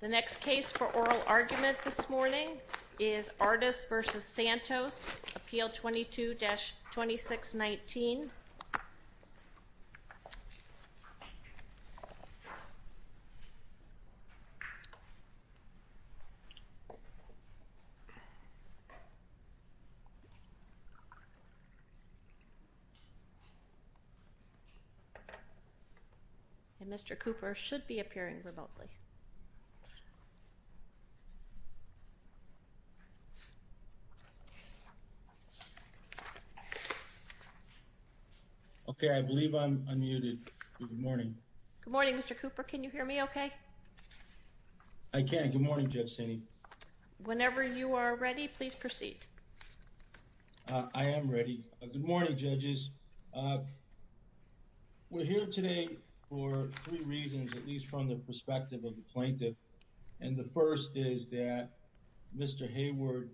The next case for oral argument this morning is Artis v. Santos, Appeal 22-2619. Mr. Cooper should be appearing remotely. Okay, I believe I'm unmuted. Good morning. Good morning, Mr. Cooper. Can you hear me okay? I can. Good morning, Judge Saney. Whenever you are ready, please proceed. I am ready. Good morning, judges. We're here today for three reasons, at least from the perspective of the plaintiff. And the first is that Mr. Hayward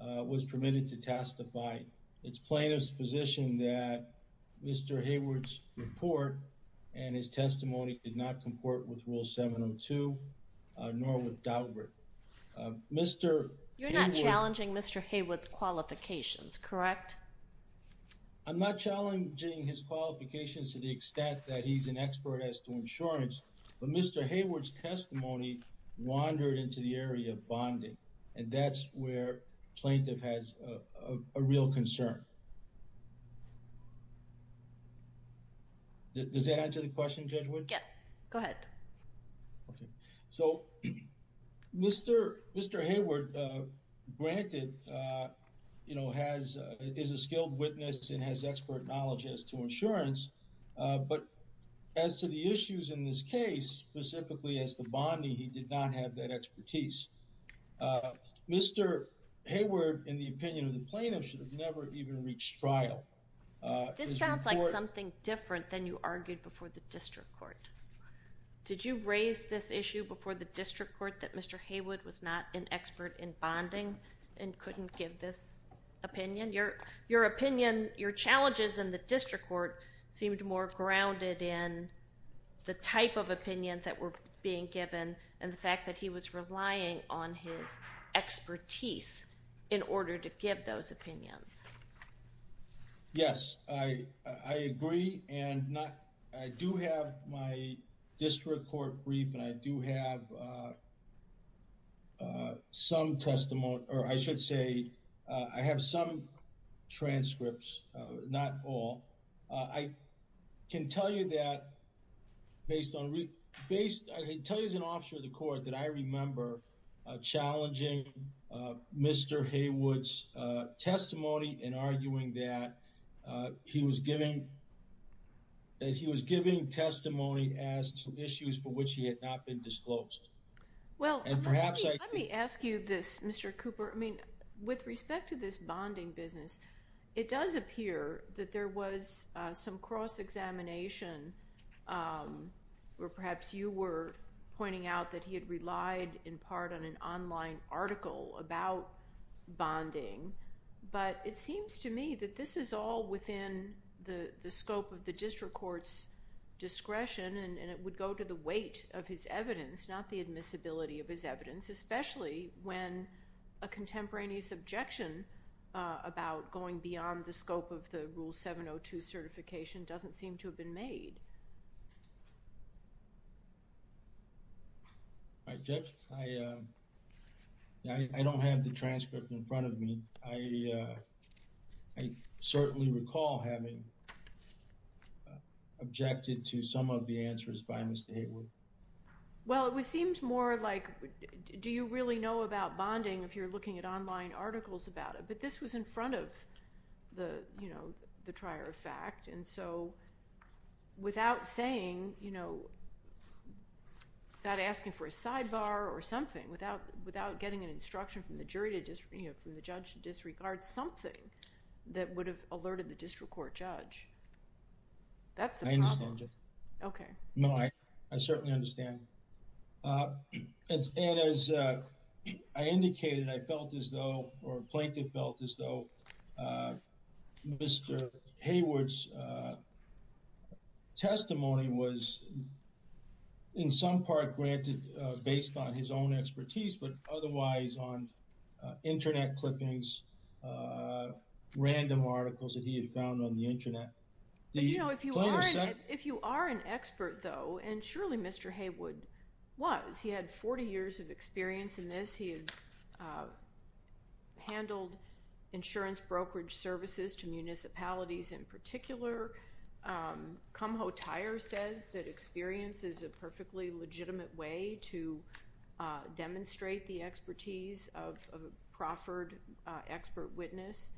was permitted to testify. It's plaintiff's position that Mr. Hayward's report and his testimony did not comport with Rule 702, nor with Daubert. You're not challenging Mr. Hayward's qualifications, correct? I'm not challenging his qualifications to the extent that he's an expert as to insurance, but Mr. Hayward's testimony wandered into the area of bonding, and that's where plaintiff has a real concern. Does that answer the question, Judge Wood? Yeah, go ahead. Okay, so Mr. Hayward, granted, you know, is a skilled witness and has expert knowledge as to insurance, but as to the issues in this case, specifically as to bonding, he did not have that expertise. Mr. Hayward, in the opinion of the plaintiff, should have never even reached trial. This sounds like something different than you argued before the district court. Did you raise this issue before the district court that Mr. Hayward was not an expert in bonding and couldn't give this opinion? Your opinion, your challenges in the district court seemed more grounded in the type of opinions that were being given and the fact that he was relying on his expertise in order to give those opinions. Yes, I agree, and I do have my district court brief, and I do have some testimony, or I should say I have some transcripts, not all. I can tell you that based on... I can tell you as an officer of the court that I remember challenging Mr. Hayward's testimony and arguing that he was giving testimony as to issues for which he had not been disclosed. Let me ask you this, Mr. Cooper. With respect to this bonding business, it does appear that there was some cross-examination, or perhaps you were pointing out that he had relied in part on an online article about bonding, but it seems to me that this is all within the scope of the district court's discretion, and it would go to the weight of his evidence, not the admissibility of his evidence, especially when a contemporaneous objection about going beyond the scope of the Rule 702 certification doesn't seem to have been made. Judge, I don't have the transcript in front of me. I certainly recall having objected to some of the answers by Mr. Hayward. Well, it seemed more like, do you really know about bonding if you're looking at online articles about it? But this was in front of the trier of fact, and so without saying, without asking for a sidebar or something, without getting an instruction from the judge to disregard something that would have alerted the district court judge, that's the problem. I understand, Judge. Okay. No, I certainly understand. And as I indicated, I felt as though, or a plaintiff felt as though Mr. Hayward's testimony was in some part granted based on his own expertise, but otherwise on Internet clippings, random articles that he had found on the Internet. But, you know, if you are an expert, though, and surely Mr. Hayward was. He had 40 years of experience in this. He had handled insurance brokerage services to municipalities in particular. Kumho Tyer says that experience is a perfectly legitimate way to demonstrate the expertise of a proffered expert witness.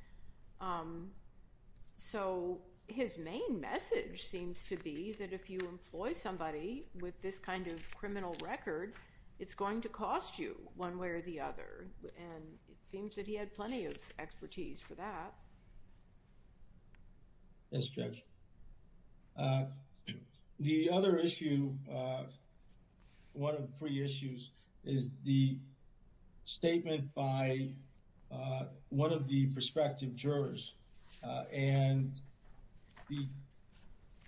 So his main message seems to be that if you employ somebody with this kind of criminal record, it's going to cost you one way or the other. And it seems that he had plenty of expertise for that. Yes, Judge. The other issue, one of three issues, is the statement by one of the prospective jurors. And the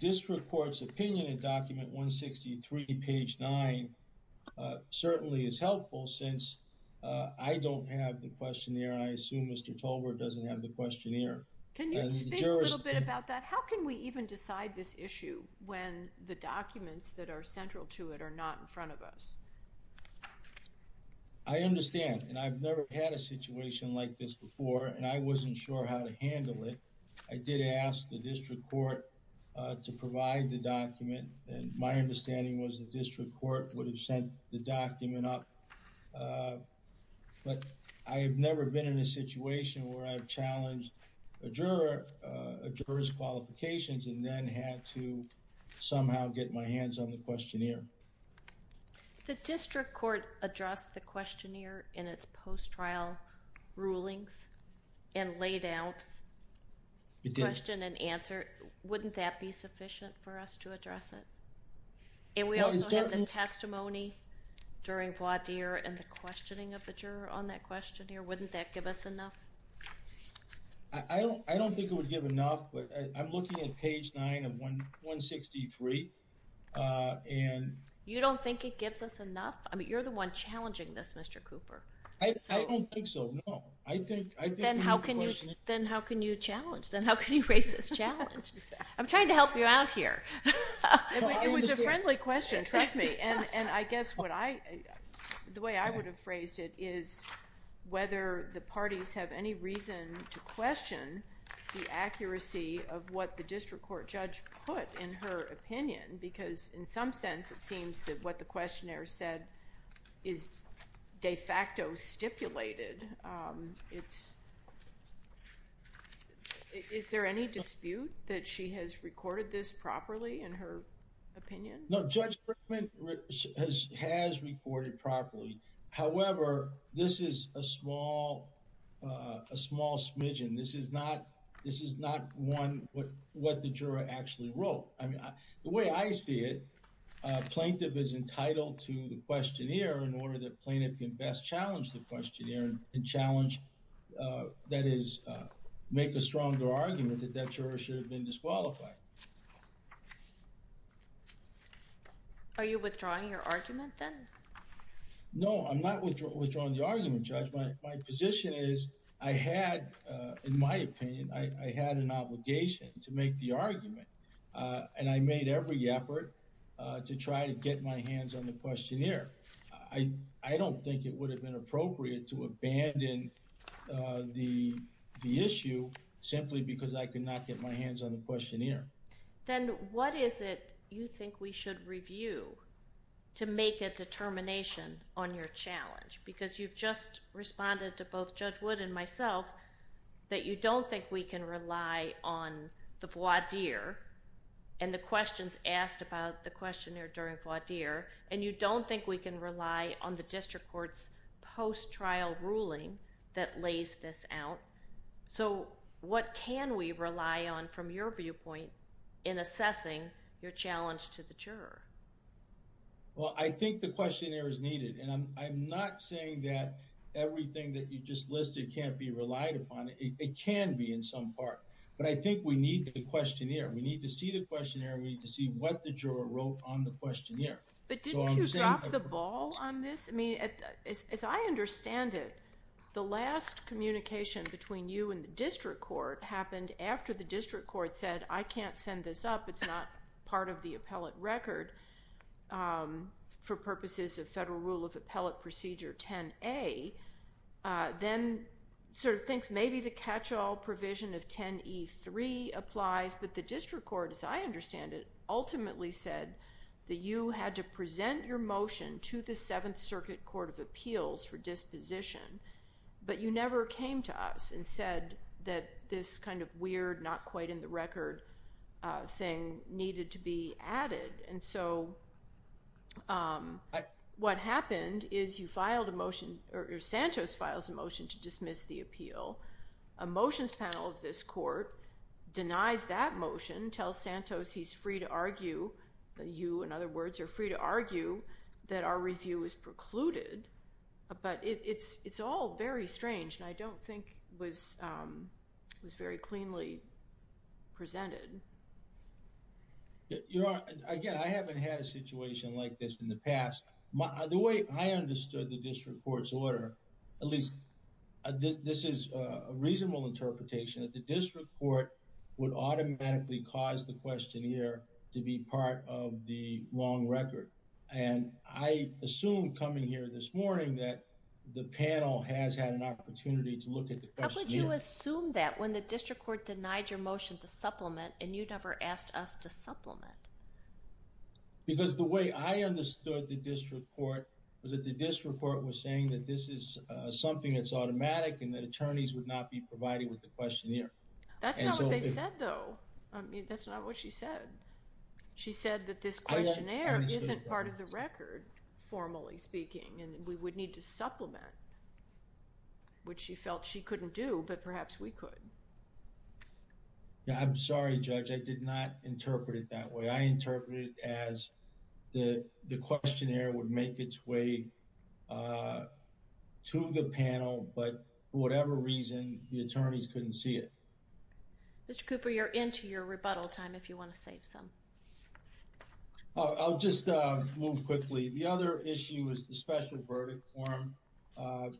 district court's opinion in document 163, page 9, certainly is helpful since I don't have the questionnaire. I assume Mr. Tolbert doesn't have the questionnaire. Can you speak a little bit about that? How can we even decide this issue when the documents that are central to it are not in front of us? I understand, and I've never had a situation like this before, and I wasn't sure how to handle it. I did ask the district court to provide the document, and my understanding was the district court would have sent the document up. But I have never been in a situation where I've challenged a juror's qualifications and then had to somehow get my hands on the questionnaire. The district court addressed the questionnaire in its post-trial rulings and laid out question and answer. Wouldn't that be sufficient for us to address it? And we also have the testimony during voir dire and the questioning of the juror on that questionnaire. Wouldn't that give us enough? I don't think it would give enough, but I'm looking at page 9 of 163. You don't think it gives us enough? I mean, you're the one challenging this, Mr. Cooper. I don't think so, no. Then how can you challenge? Then how can you raise this challenge? I'm trying to help you out here. It was a friendly question, trust me. And I guess the way I would have phrased it is whether the parties have any reason to question the accuracy of what the district court judge put in her opinion, because in some sense it seems that what the questionnaire said is de facto stipulated. Is there any dispute that she has recorded this properly in her opinion? No, Judge Frickman has recorded properly. However, this is a small smidgen. This is not what the juror actually wrote. The way I see it, a plaintiff is entitled to the questionnaire in order that plaintiff can best challenge the questionnaire and challenge, that is, make a stronger argument that that juror should have been disqualified. Are you withdrawing your argument then? No, I'm not withdrawing the argument, Judge. My position is I had, in my opinion, I had an obligation to make the argument and I made every effort to try to get my hands on the questionnaire. I don't think it would have been appropriate to abandon the issue simply because I could not get my hands on the questionnaire. Then what is it you think we should review to make a determination on your challenge? Because you've just responded to both Judge Wood and myself that you don't think we can rely on the voir dire and the questions asked about the questionnaire during voir dire, and you don't think we can rely on the district court's post-trial ruling that lays this out. So what can we rely on from your viewpoint in assessing your challenge to the juror? Well, I think the questionnaire is needed, and I'm not saying that everything that you just listed can't be relied upon. It can be in some part, but I think we need the questionnaire. We need to see the questionnaire. We need to see what the juror wrote on the questionnaire. But didn't you drop the ball on this? I mean, as I understand it, the last communication between you and the district court happened after the district court said, I can't send this up, it's not part of the appellate record for purposes of Federal Rule of Appellate Procedure 10A, then sort of thinks maybe the catch-all provision of 10E3 applies, but the district court, as I understand it, ultimately said that you had to present your motion to the Seventh Circuit Court of Appeals for disposition, but you never came to us and said that this kind of weird, not-quite-in-the-record thing needed to be added. And so what happened is you filed a motion, or Santos files a motion to dismiss the appeal. A motions panel of this court denies that motion, tells Santos he's free to argue, you, in other words, you're free to argue that our review is precluded, but it's all very strange, and I don't think it was very cleanly presented. Again, I haven't had a situation like this in the past. The way I understood the district court's order, at least this is a reasonable interpretation, that the district court would automatically cause the questionnaire to be part of the long record, and I assume coming here this morning that the panel has had an opportunity to look at the questionnaire. Why did you assume that when the district court denied your motion to supplement and you never asked us to supplement? Because the way I understood the district court was that the district court was saying that this is something that's automatic and that attorneys would not be provided with the questionnaire. That's not what they said, though. I mean, that's not what she said. She said that this questionnaire isn't part of the record, formally speaking, and we would need to supplement, which she felt she couldn't do, but perhaps we could. I'm sorry, Judge. I did not interpret it that way. I interpreted it as the questionnaire would make its way to the panel, but for whatever reason, the attorneys couldn't see it. Mr. Cooper, you're into your rebuttal time if you want to save some. I'll just move quickly. The other issue is the special verdict form,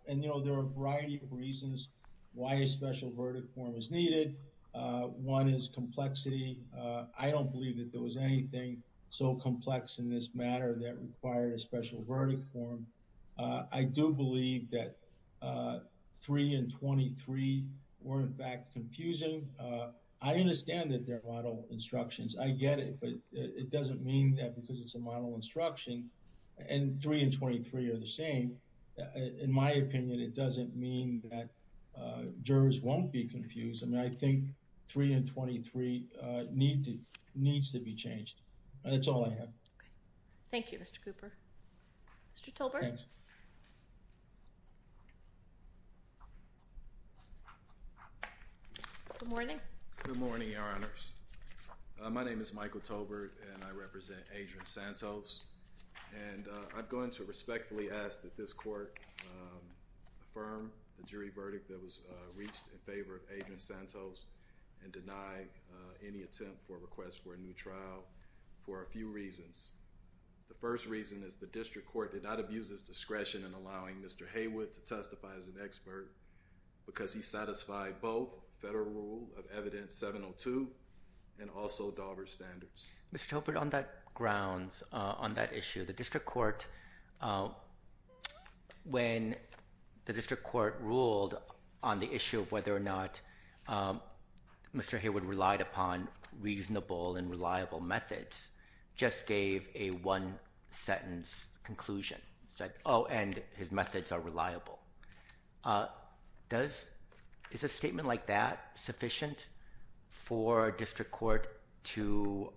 and there are a variety of reasons why a special verdict form is needed. One is complexity. I don't believe that there was anything so complex in this matter that required a special verdict form. I do believe that 3 and 23 were, in fact, confusing. I understand that they're model instructions. I get it, but it doesn't mean that because it's a model instruction, and 3 and 23 are the same, in my opinion, it doesn't mean that jurors won't be confused. I think 3 and 23 needs to be changed. That's all I have. Thank you, Mr. Cooper. Mr. Tolbert. Good morning. Good morning, Your Honors. My name is Michael Tolbert, and I represent Adrian Santos. I'm going to respectfully ask that this court affirm the jury verdict that was reached in favor of Adrian Santos and deny any attempt for a request for a new trial for a few reasons. The first reason is the district court did not abuse its discretion in allowing Mr. Haywood to testify as an expert because he satisfied both federal rule of evidence 702 and also Dauber's standards. Mr. Tolbert, on that grounds, on that issue, the district court, when the district court ruled on the issue of whether or not Mr. Haywood relied upon reasonable and reliable methods, just gave a one-sentence conclusion. He said, oh, and his methods are reliable. Is a statement like that sufficient for a district court to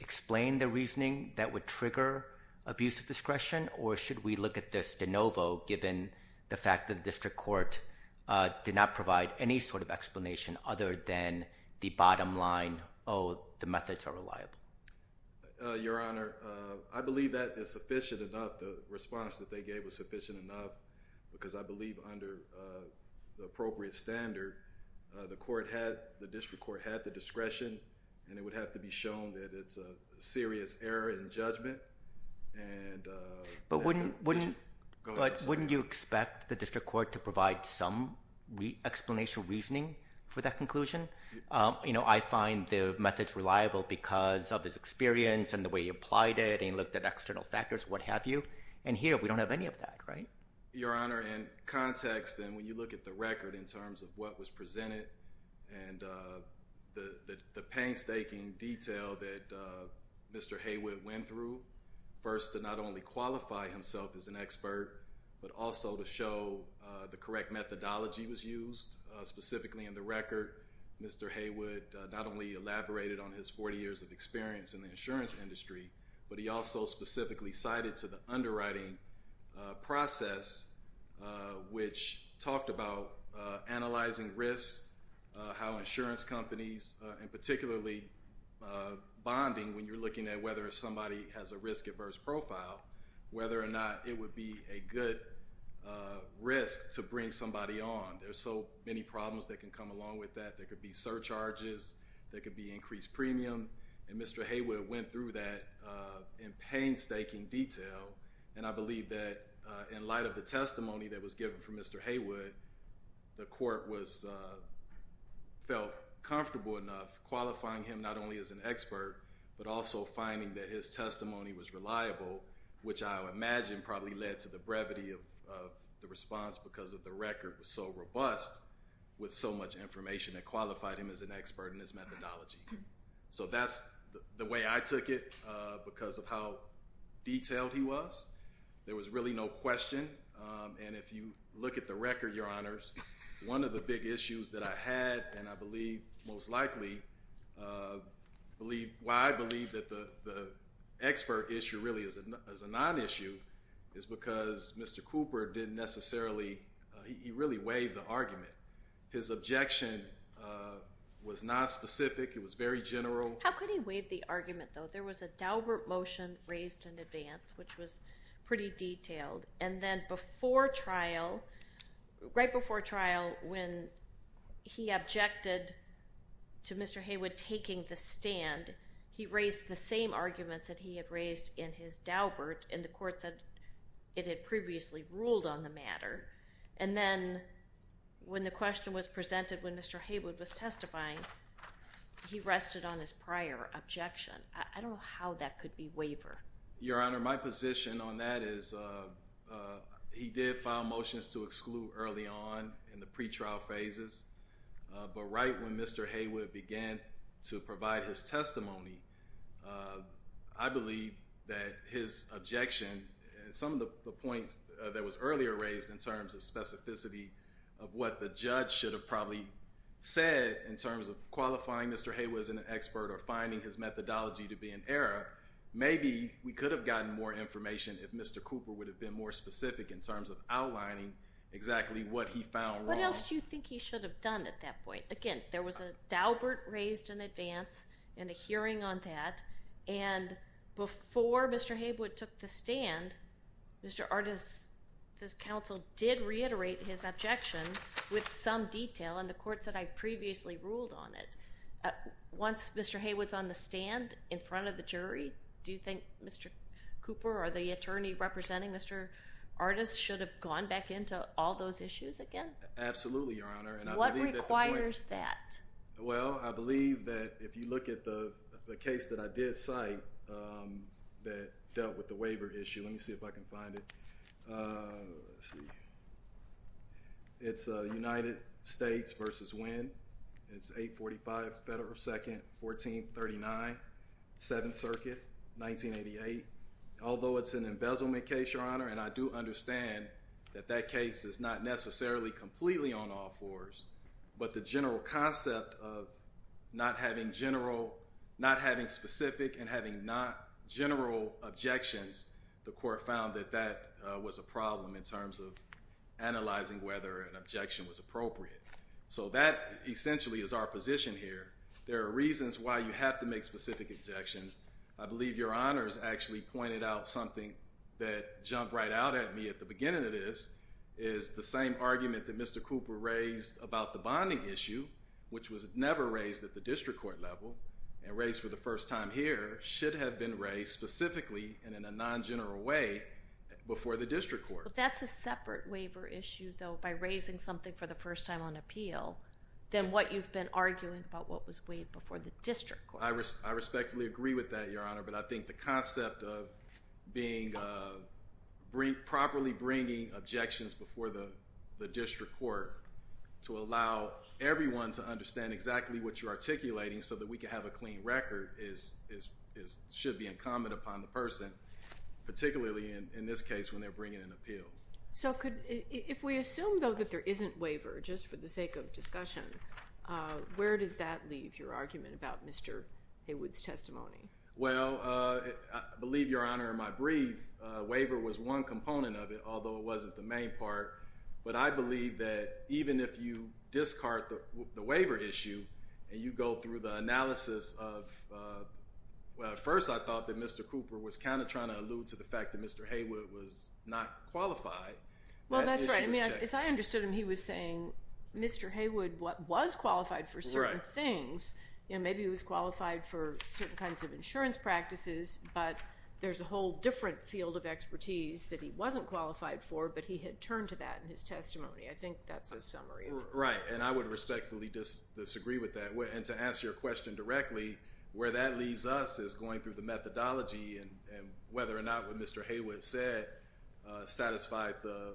explain the reasoning that would trigger abuse of discretion, or should we look at this de novo given the fact that the district court did not provide any sort of explanation other than the bottom line, oh, the methods are reliable? Your Honor, I believe that is sufficient enough. The response that they gave was sufficient enough because I believe under the appropriate standard, the district court had the discretion, and it would have to be shown that it's a serious error in judgment. But wouldn't you expect the district court to provide some explanation or reasoning for that conclusion? You know, I find the methods reliable because of his experience and the way he applied it and looked at external factors, what have you. And here, we don't have any of that, right? Your Honor, in context and when you look at the record in terms of what was presented and the painstaking detail that Mr. Haywood went through, first to not only qualify himself as an expert, but also to show the correct methodology was used. Specifically in the record, Mr. Haywood not only elaborated on his 40 years of experience in the insurance industry, but he also specifically cited to the underwriting process, which talked about analyzing risks, how insurance companies, and particularly bonding when you're looking at whether somebody has a risk-adverse profile, whether or not it would be a good risk to bring somebody on. There's so many problems that can come along with that. There could be surcharges. There could be increased premium. And Mr. Haywood went through that in painstaking detail, and I believe that in light of the testimony that was given from Mr. Haywood, the court felt comfortable enough qualifying him not only as an expert, but also finding that his testimony was reliable, which I would imagine probably led to the brevity of the response because the record was so robust with so much information that qualified him as an expert in his methodology. So that's the way I took it because of how detailed he was. There was really no question, and if you look at the record, Your Honors, one of the big issues that I had, and I believe most likely why I believe that the expert issue really is a non-issue, is because Mr. Cooper didn't necessarily, he really waived the argument. His objection was not specific. It was very general. How could he waive the argument, though? There was a Daubert motion raised in advance, which was pretty detailed, and then before trial, right before trial, when he objected to Mr. Haywood taking the stand, he raised the same arguments that he had raised in his Daubert, and the court said it had previously ruled on the matter, and then when the question was presented when Mr. Haywood was testifying, he rested on his prior objection. I don't know how that could be waivered. Your Honor, my position on that is he did file motions to exclude early on in the pretrial phases, but right when Mr. Haywood began to provide his testimony, I believe that his objection, some of the points that was earlier raised in terms of specificity of what the judge should have probably said in terms of qualifying Mr. Haywood as an expert or finding his methodology to be in error, maybe we could have gotten more information if Mr. Cooper would have been more specific in terms of outlining exactly what he found wrong. What else do you think he should have done at that point? Again, there was a Daubert raised in advance and a hearing on that, and before Mr. Haywood took the stand, Mr. Artis' counsel did reiterate his objection with some detail, and the court said I previously ruled on it. Once Mr. Haywood's on the stand in front of the jury, do you think Mr. Cooper or the attorney representing Mr. Artis should have gone back into all those issues again? Absolutely, Your Honor. What requires that? Well, I believe that if you look at the case that I did cite that dealt with the waiver issue, let me see if I can find it. It's United States v. Winn. It's 845 Federal 2nd, 1439, 7th Circuit, 1988. Although it's an embezzlement case, Your Honor, and I do understand that that case is not necessarily completely on all fours, but the general concept of not having specific and having not general objections, the court found that that was a problem in terms of analyzing whether an objection was appropriate. So that essentially is our position here. There are reasons why you have to make specific objections. I believe Your Honor has actually pointed out something that jumped right out at me at the beginning of this, is the same argument that Mr. Cooper raised about the bonding issue, which was never raised at the district court level and raised for the first time here, should have been raised specifically and in a non-general way before the district court. But that's a separate waiver issue, though, by raising something for the first time on appeal, than what you've been arguing about what was waived before the district court. I respectfully agree with that, Your Honor, but I think the concept of properly bringing objections before the district court to allow everyone to understand exactly what you're articulating so that we can have a clean record should be incumbent upon the person, particularly in this case when they're bringing an appeal. So if we assume, though, that there isn't waiver just for the sake of discussion, where does that leave your argument about Mr. Haywood's testimony? Well, I believe, Your Honor, in my brief, waiver was one component of it, although it wasn't the main part. But I believe that even if you discard the waiver issue and you go through the analysis of well, at first I thought that Mr. Cooper was kind of trying to allude to the fact that Mr. Haywood was not qualified. Well, that's right. As I understood him, he was saying Mr. Haywood was qualified for certain things. Maybe he was qualified for certain kinds of insurance practices, but there's a whole different field of expertise that he wasn't qualified for, but he had turned to that in his testimony. I think that's a summary. Right, and I would respectfully disagree with that. And to answer your question directly, where that leaves us is going through the methodology and whether or not what Mr. Haywood said satisfied the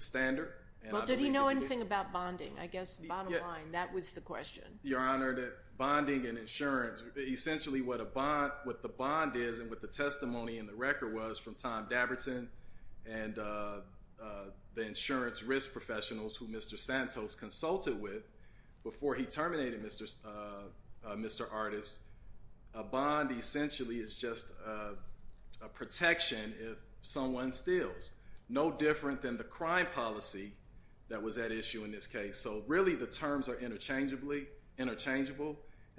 standard. Well, did he know anything about bonding? I guess bottom line, that was the question. Your Honor, that bonding and insurance, essentially what the bond is and what the testimony in the record was from Tom Dabberton and the insurance risk professionals who Mr. Santos consulted with before he terminated Mr. Artis, a bond essentially is just a protection if someone steals. No different than the crime policy that was at issue in this case. So really the terms are interchangeable, and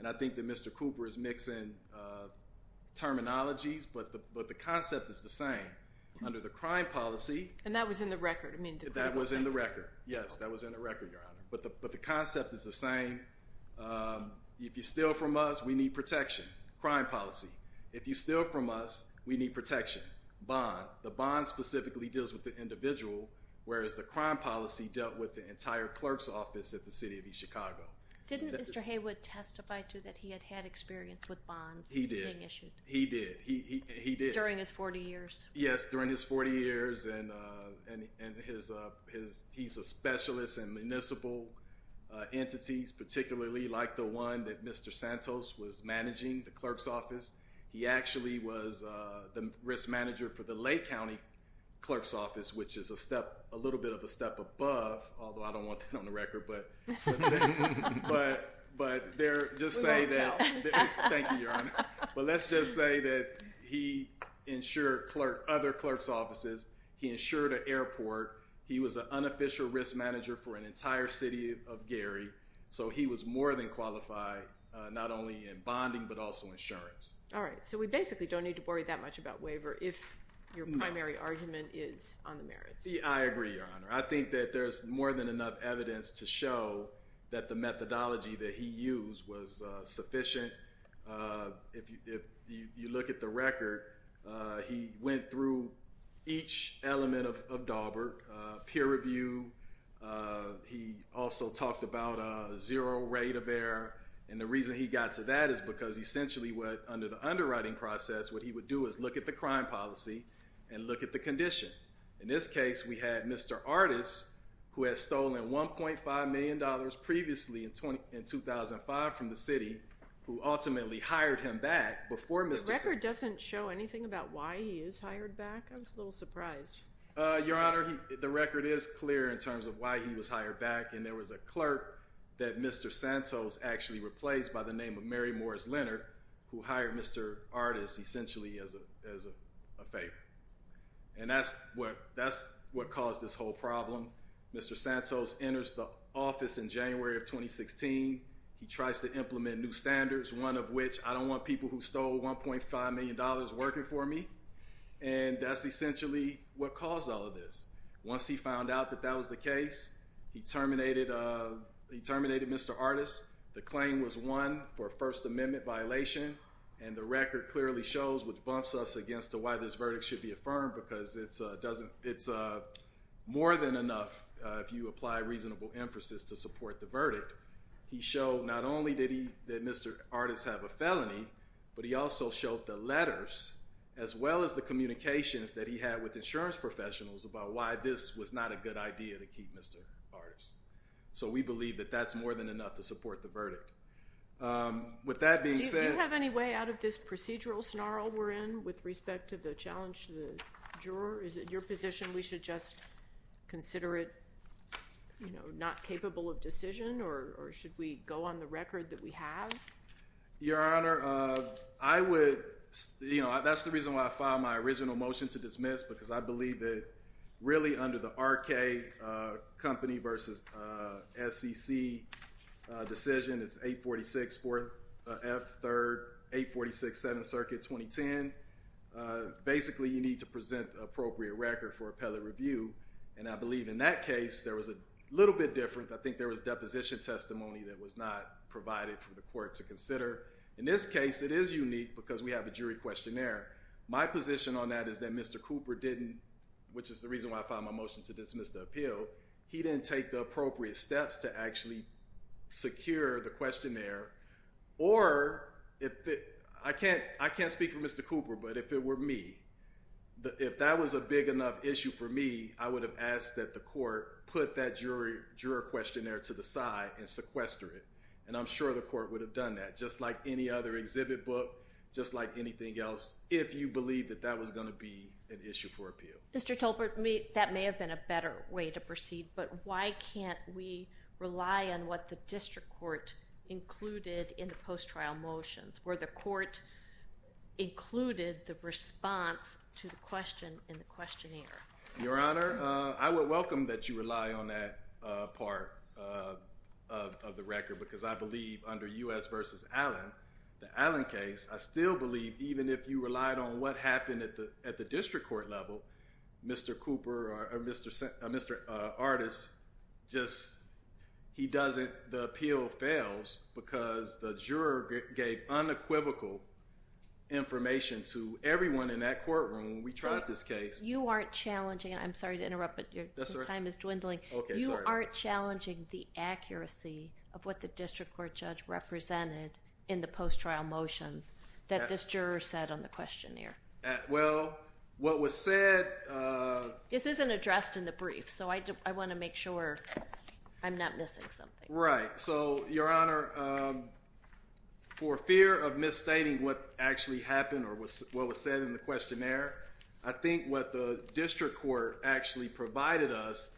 I think that Mr. Cooper is mixing terminologies, but the concept is the same. Under the crime policy. And that was in the record. That was in the record, yes. That was in the record, Your Honor. But the concept is the same. If you steal from us, we need protection. Crime policy. If you steal from us, we need protection. The bond specifically deals with the individual, whereas the crime policy dealt with the entire clerk's office at the City of East Chicago. Didn't Mr. Haywood testify to that he had had experience with bonds being issued? He did. He did. During his 40 years. Yes, during his 40 years, and he's a specialist in municipal entities, particularly like the one that Mr. Santos was managing, the clerk's office. He actually was the risk manager for the Lake County clerk's office, which is a little bit of a step above, although I don't want that on the record. But let's just say that he insured other clerk's offices. He insured an airport. He was an unofficial risk manager for an entire city of Gary. So he was more than qualified not only in bonding but also insurance. All right. So we basically don't need to worry that much about waiver if your primary argument is on the merits. I agree, Your Honor. I think that there's more than enough evidence to show that the methodology that he used was sufficient. If you look at the record, he went through each element of Daubert, peer review. He also talked about a zero rate of error. And the reason he got to that is because essentially under the underwriting process, what he would do is look at the crime policy and look at the condition. In this case, we had Mr. Artis, who had stolen $1.5 million previously in 2005 from the city, who ultimately hired him back before Mr. Santos. The record doesn't show anything about why he is hired back. I was a little surprised. Your Honor, the record is clear in terms of why he was hired back. And there was a clerk that Mr. Santos actually replaced by the name of Mary Morris Leonard, who hired Mr. Artis essentially as a favor. And that's what caused this whole problem. Mr. Santos enters the office in January of 2016. He tries to implement new standards, one of which I don't want people who stole $1.5 million working for me. And that's essentially what caused all of this. Once he found out that that was the case, he terminated Mr. Artis. The claim was won for a First Amendment violation. And the record clearly shows, which bumps us against why this verdict should be affirmed, because it's more than enough, if you apply reasonable emphasis, to support the verdict. He showed not only did Mr. Artis have a felony, but he also showed the letters as well as the communications that he had with insurance professionals about why this was not a good idea to keep Mr. Artis. So we believe that that's more than enough to support the verdict. With that being said— Do you have any way out of this procedural snarl we're in with respect to the challenge to the juror? Is it your position we should just consider it not capable of decision, or should we go on the record that we have? Your Honor, I would—you know, that's the reason why I filed my original motion to dismiss, because I believe that really under the R.K. Company v. SEC decision, it's 846 F. 3rd, 846 7th Circuit, 2010. Basically, you need to present the appropriate record for appellate review, and I believe in that case, there was a little bit different. I think there was deposition testimony that was not provided for the court to consider. In this case, it is unique because we have a jury questionnaire. My position on that is that Mr. Cooper didn't—which is the reason why I filed my motion to dismiss the appeal—he didn't take the appropriate steps to actually secure the questionnaire. Or, I can't speak for Mr. Cooper, but if it were me, if that was a big enough issue for me, I would have asked that the court put that juror questionnaire to the side and sequester it. And I'm sure the court would have done that, just like any other exhibit book, just like anything else, if you believe that that was going to be an issue for appeal. Mr. Tolbert, that may have been a better way to proceed, but why can't we rely on what the district court included in the post-trial motions, where the court included the response to the question in the questionnaire? Your Honor, I would welcome that you rely on that part of the record because I believe under U.S. v. Allen, the Allen case, I still believe even if you relied on what happened at the district court level, Mr. Cooper or Mr. Artis just—he doesn't—the appeal fails because the juror gave unequivocal information to everyone in that courtroom. You aren't challenging—I'm sorry to interrupt, but your time is dwindling—you aren't challenging the accuracy of what the district court judge represented in the post-trial motions that this juror said on the questionnaire? Well, what was said— This isn't addressed in the brief, so I want to make sure I'm not missing something. Right. So, Your Honor, for fear of misstating what actually happened or what was said in the questionnaire, I think what the district court actually provided us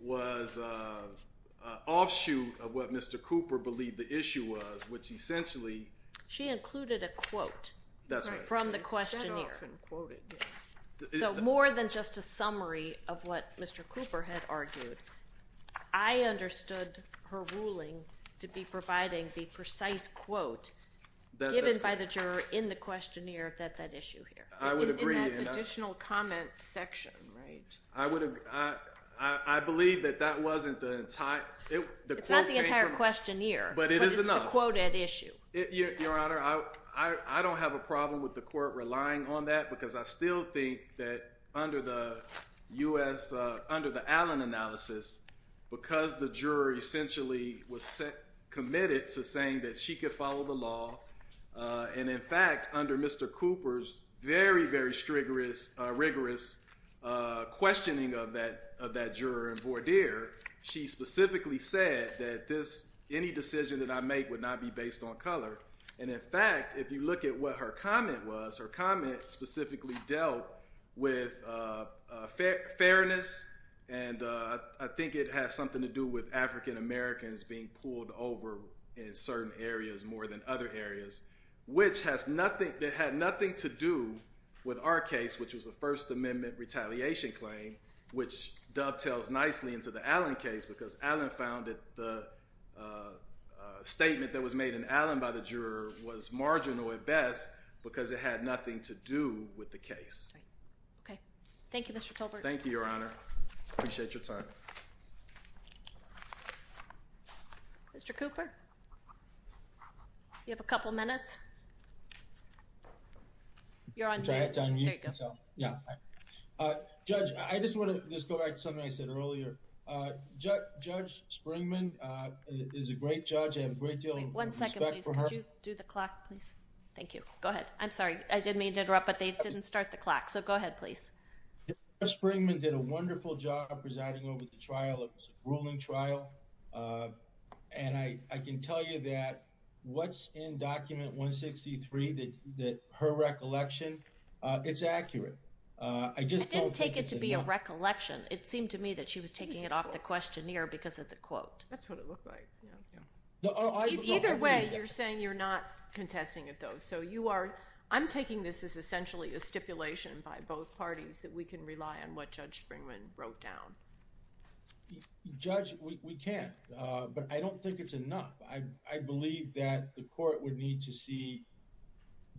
was an offshoot of what Mr. Cooper believed the issue was, which essentially— She included a quote. That's right. From the questionnaire. So more than just a summary of what Mr. Cooper had argued, I understood her ruling to be providing the precise quote given by the juror in the questionnaire that's at issue here. I would agree. In that additional comment section, right? I would—I believe that that wasn't the entire— It's not the entire questionnaire. But it is enough. But it's the quote at issue. Your Honor, I don't have a problem with the court relying on that because I still think that under the U.S.—under the Allen analysis, because the juror essentially was committed to saying that she could follow the law, and, in fact, under Mr. Cooper's very, very rigorous questioning of that juror and voir dire, she specifically said that this—any decision that I make would not be based on color. And, in fact, if you look at what her comment was, her comment specifically dealt with fairness, and I think it has something to do with African-Americans being pulled over in certain areas more than other areas, which has nothing—that had nothing to do with our case, which was a First Amendment retaliation claim, which dovetails nicely into the Allen case because Allen found that the statement that was made in Allen by the juror was marginal at best because it had nothing to do with the case. Okay. Thank you, Mr. Tolbert. Thank you, Your Honor. I appreciate your time. Mr. Cooper? You have a couple minutes. You're on mute. Go ahead, John. There you go. Yeah. Hi. Judge, I just want to just go back to something I said earlier. Judge Springman is a great judge and a great deal of respect for her. One second, please. Could you do the clock, please? Thank you. Go ahead. I'm sorry. I did mean to interrupt, but they didn't start the clock, so go ahead, please. Judge Springman did a wonderful job presiding over the trial. It was a ruling trial. I can tell you that what's in Document 163, her recollection, it's accurate. I just don't think it's enough. I didn't take it to be a recollection. It seemed to me that she was taking it off the questionnaire because it's a quote. That's what it looked like. Either way, you're saying you're not contesting it, though. I'm taking this as essentially a stipulation by both parties that we can rely on what Judge Springman wrote down. Judge, we can't, but I don't think it's enough. I believe that the court would need to see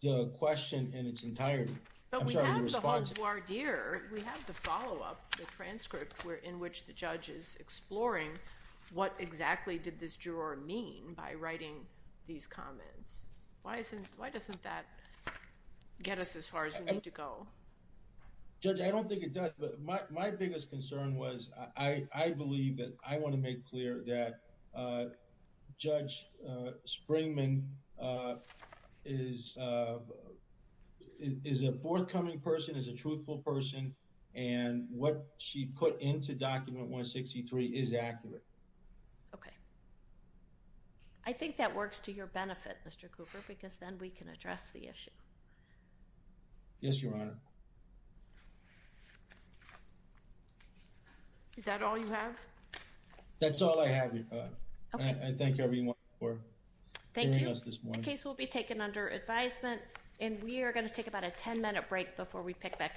the question in its entirety. I'm sorry, your response... But we have the haute voir dire. We have the follow-up transcript in which the judge is exploring what exactly did this juror mean by writing these comments. Why doesn't that get us as far as we need to go? Judge, I don't think it does. My biggest concern was I believe that I want to make clear that Judge Springman is a forthcoming person, is a truthful person, and what she put into Document 163 is accurate. Okay. I think that works to your benefit, Mr. Cooper, because then we can address the issue. Yes, your Honor. Is that all you have? That's all I have, Your Honor. Okay. I thank everyone for hearing us this morning. Thank you. The case will be taken under advisement, and we are going to take about a 10-minute break before we pick back up.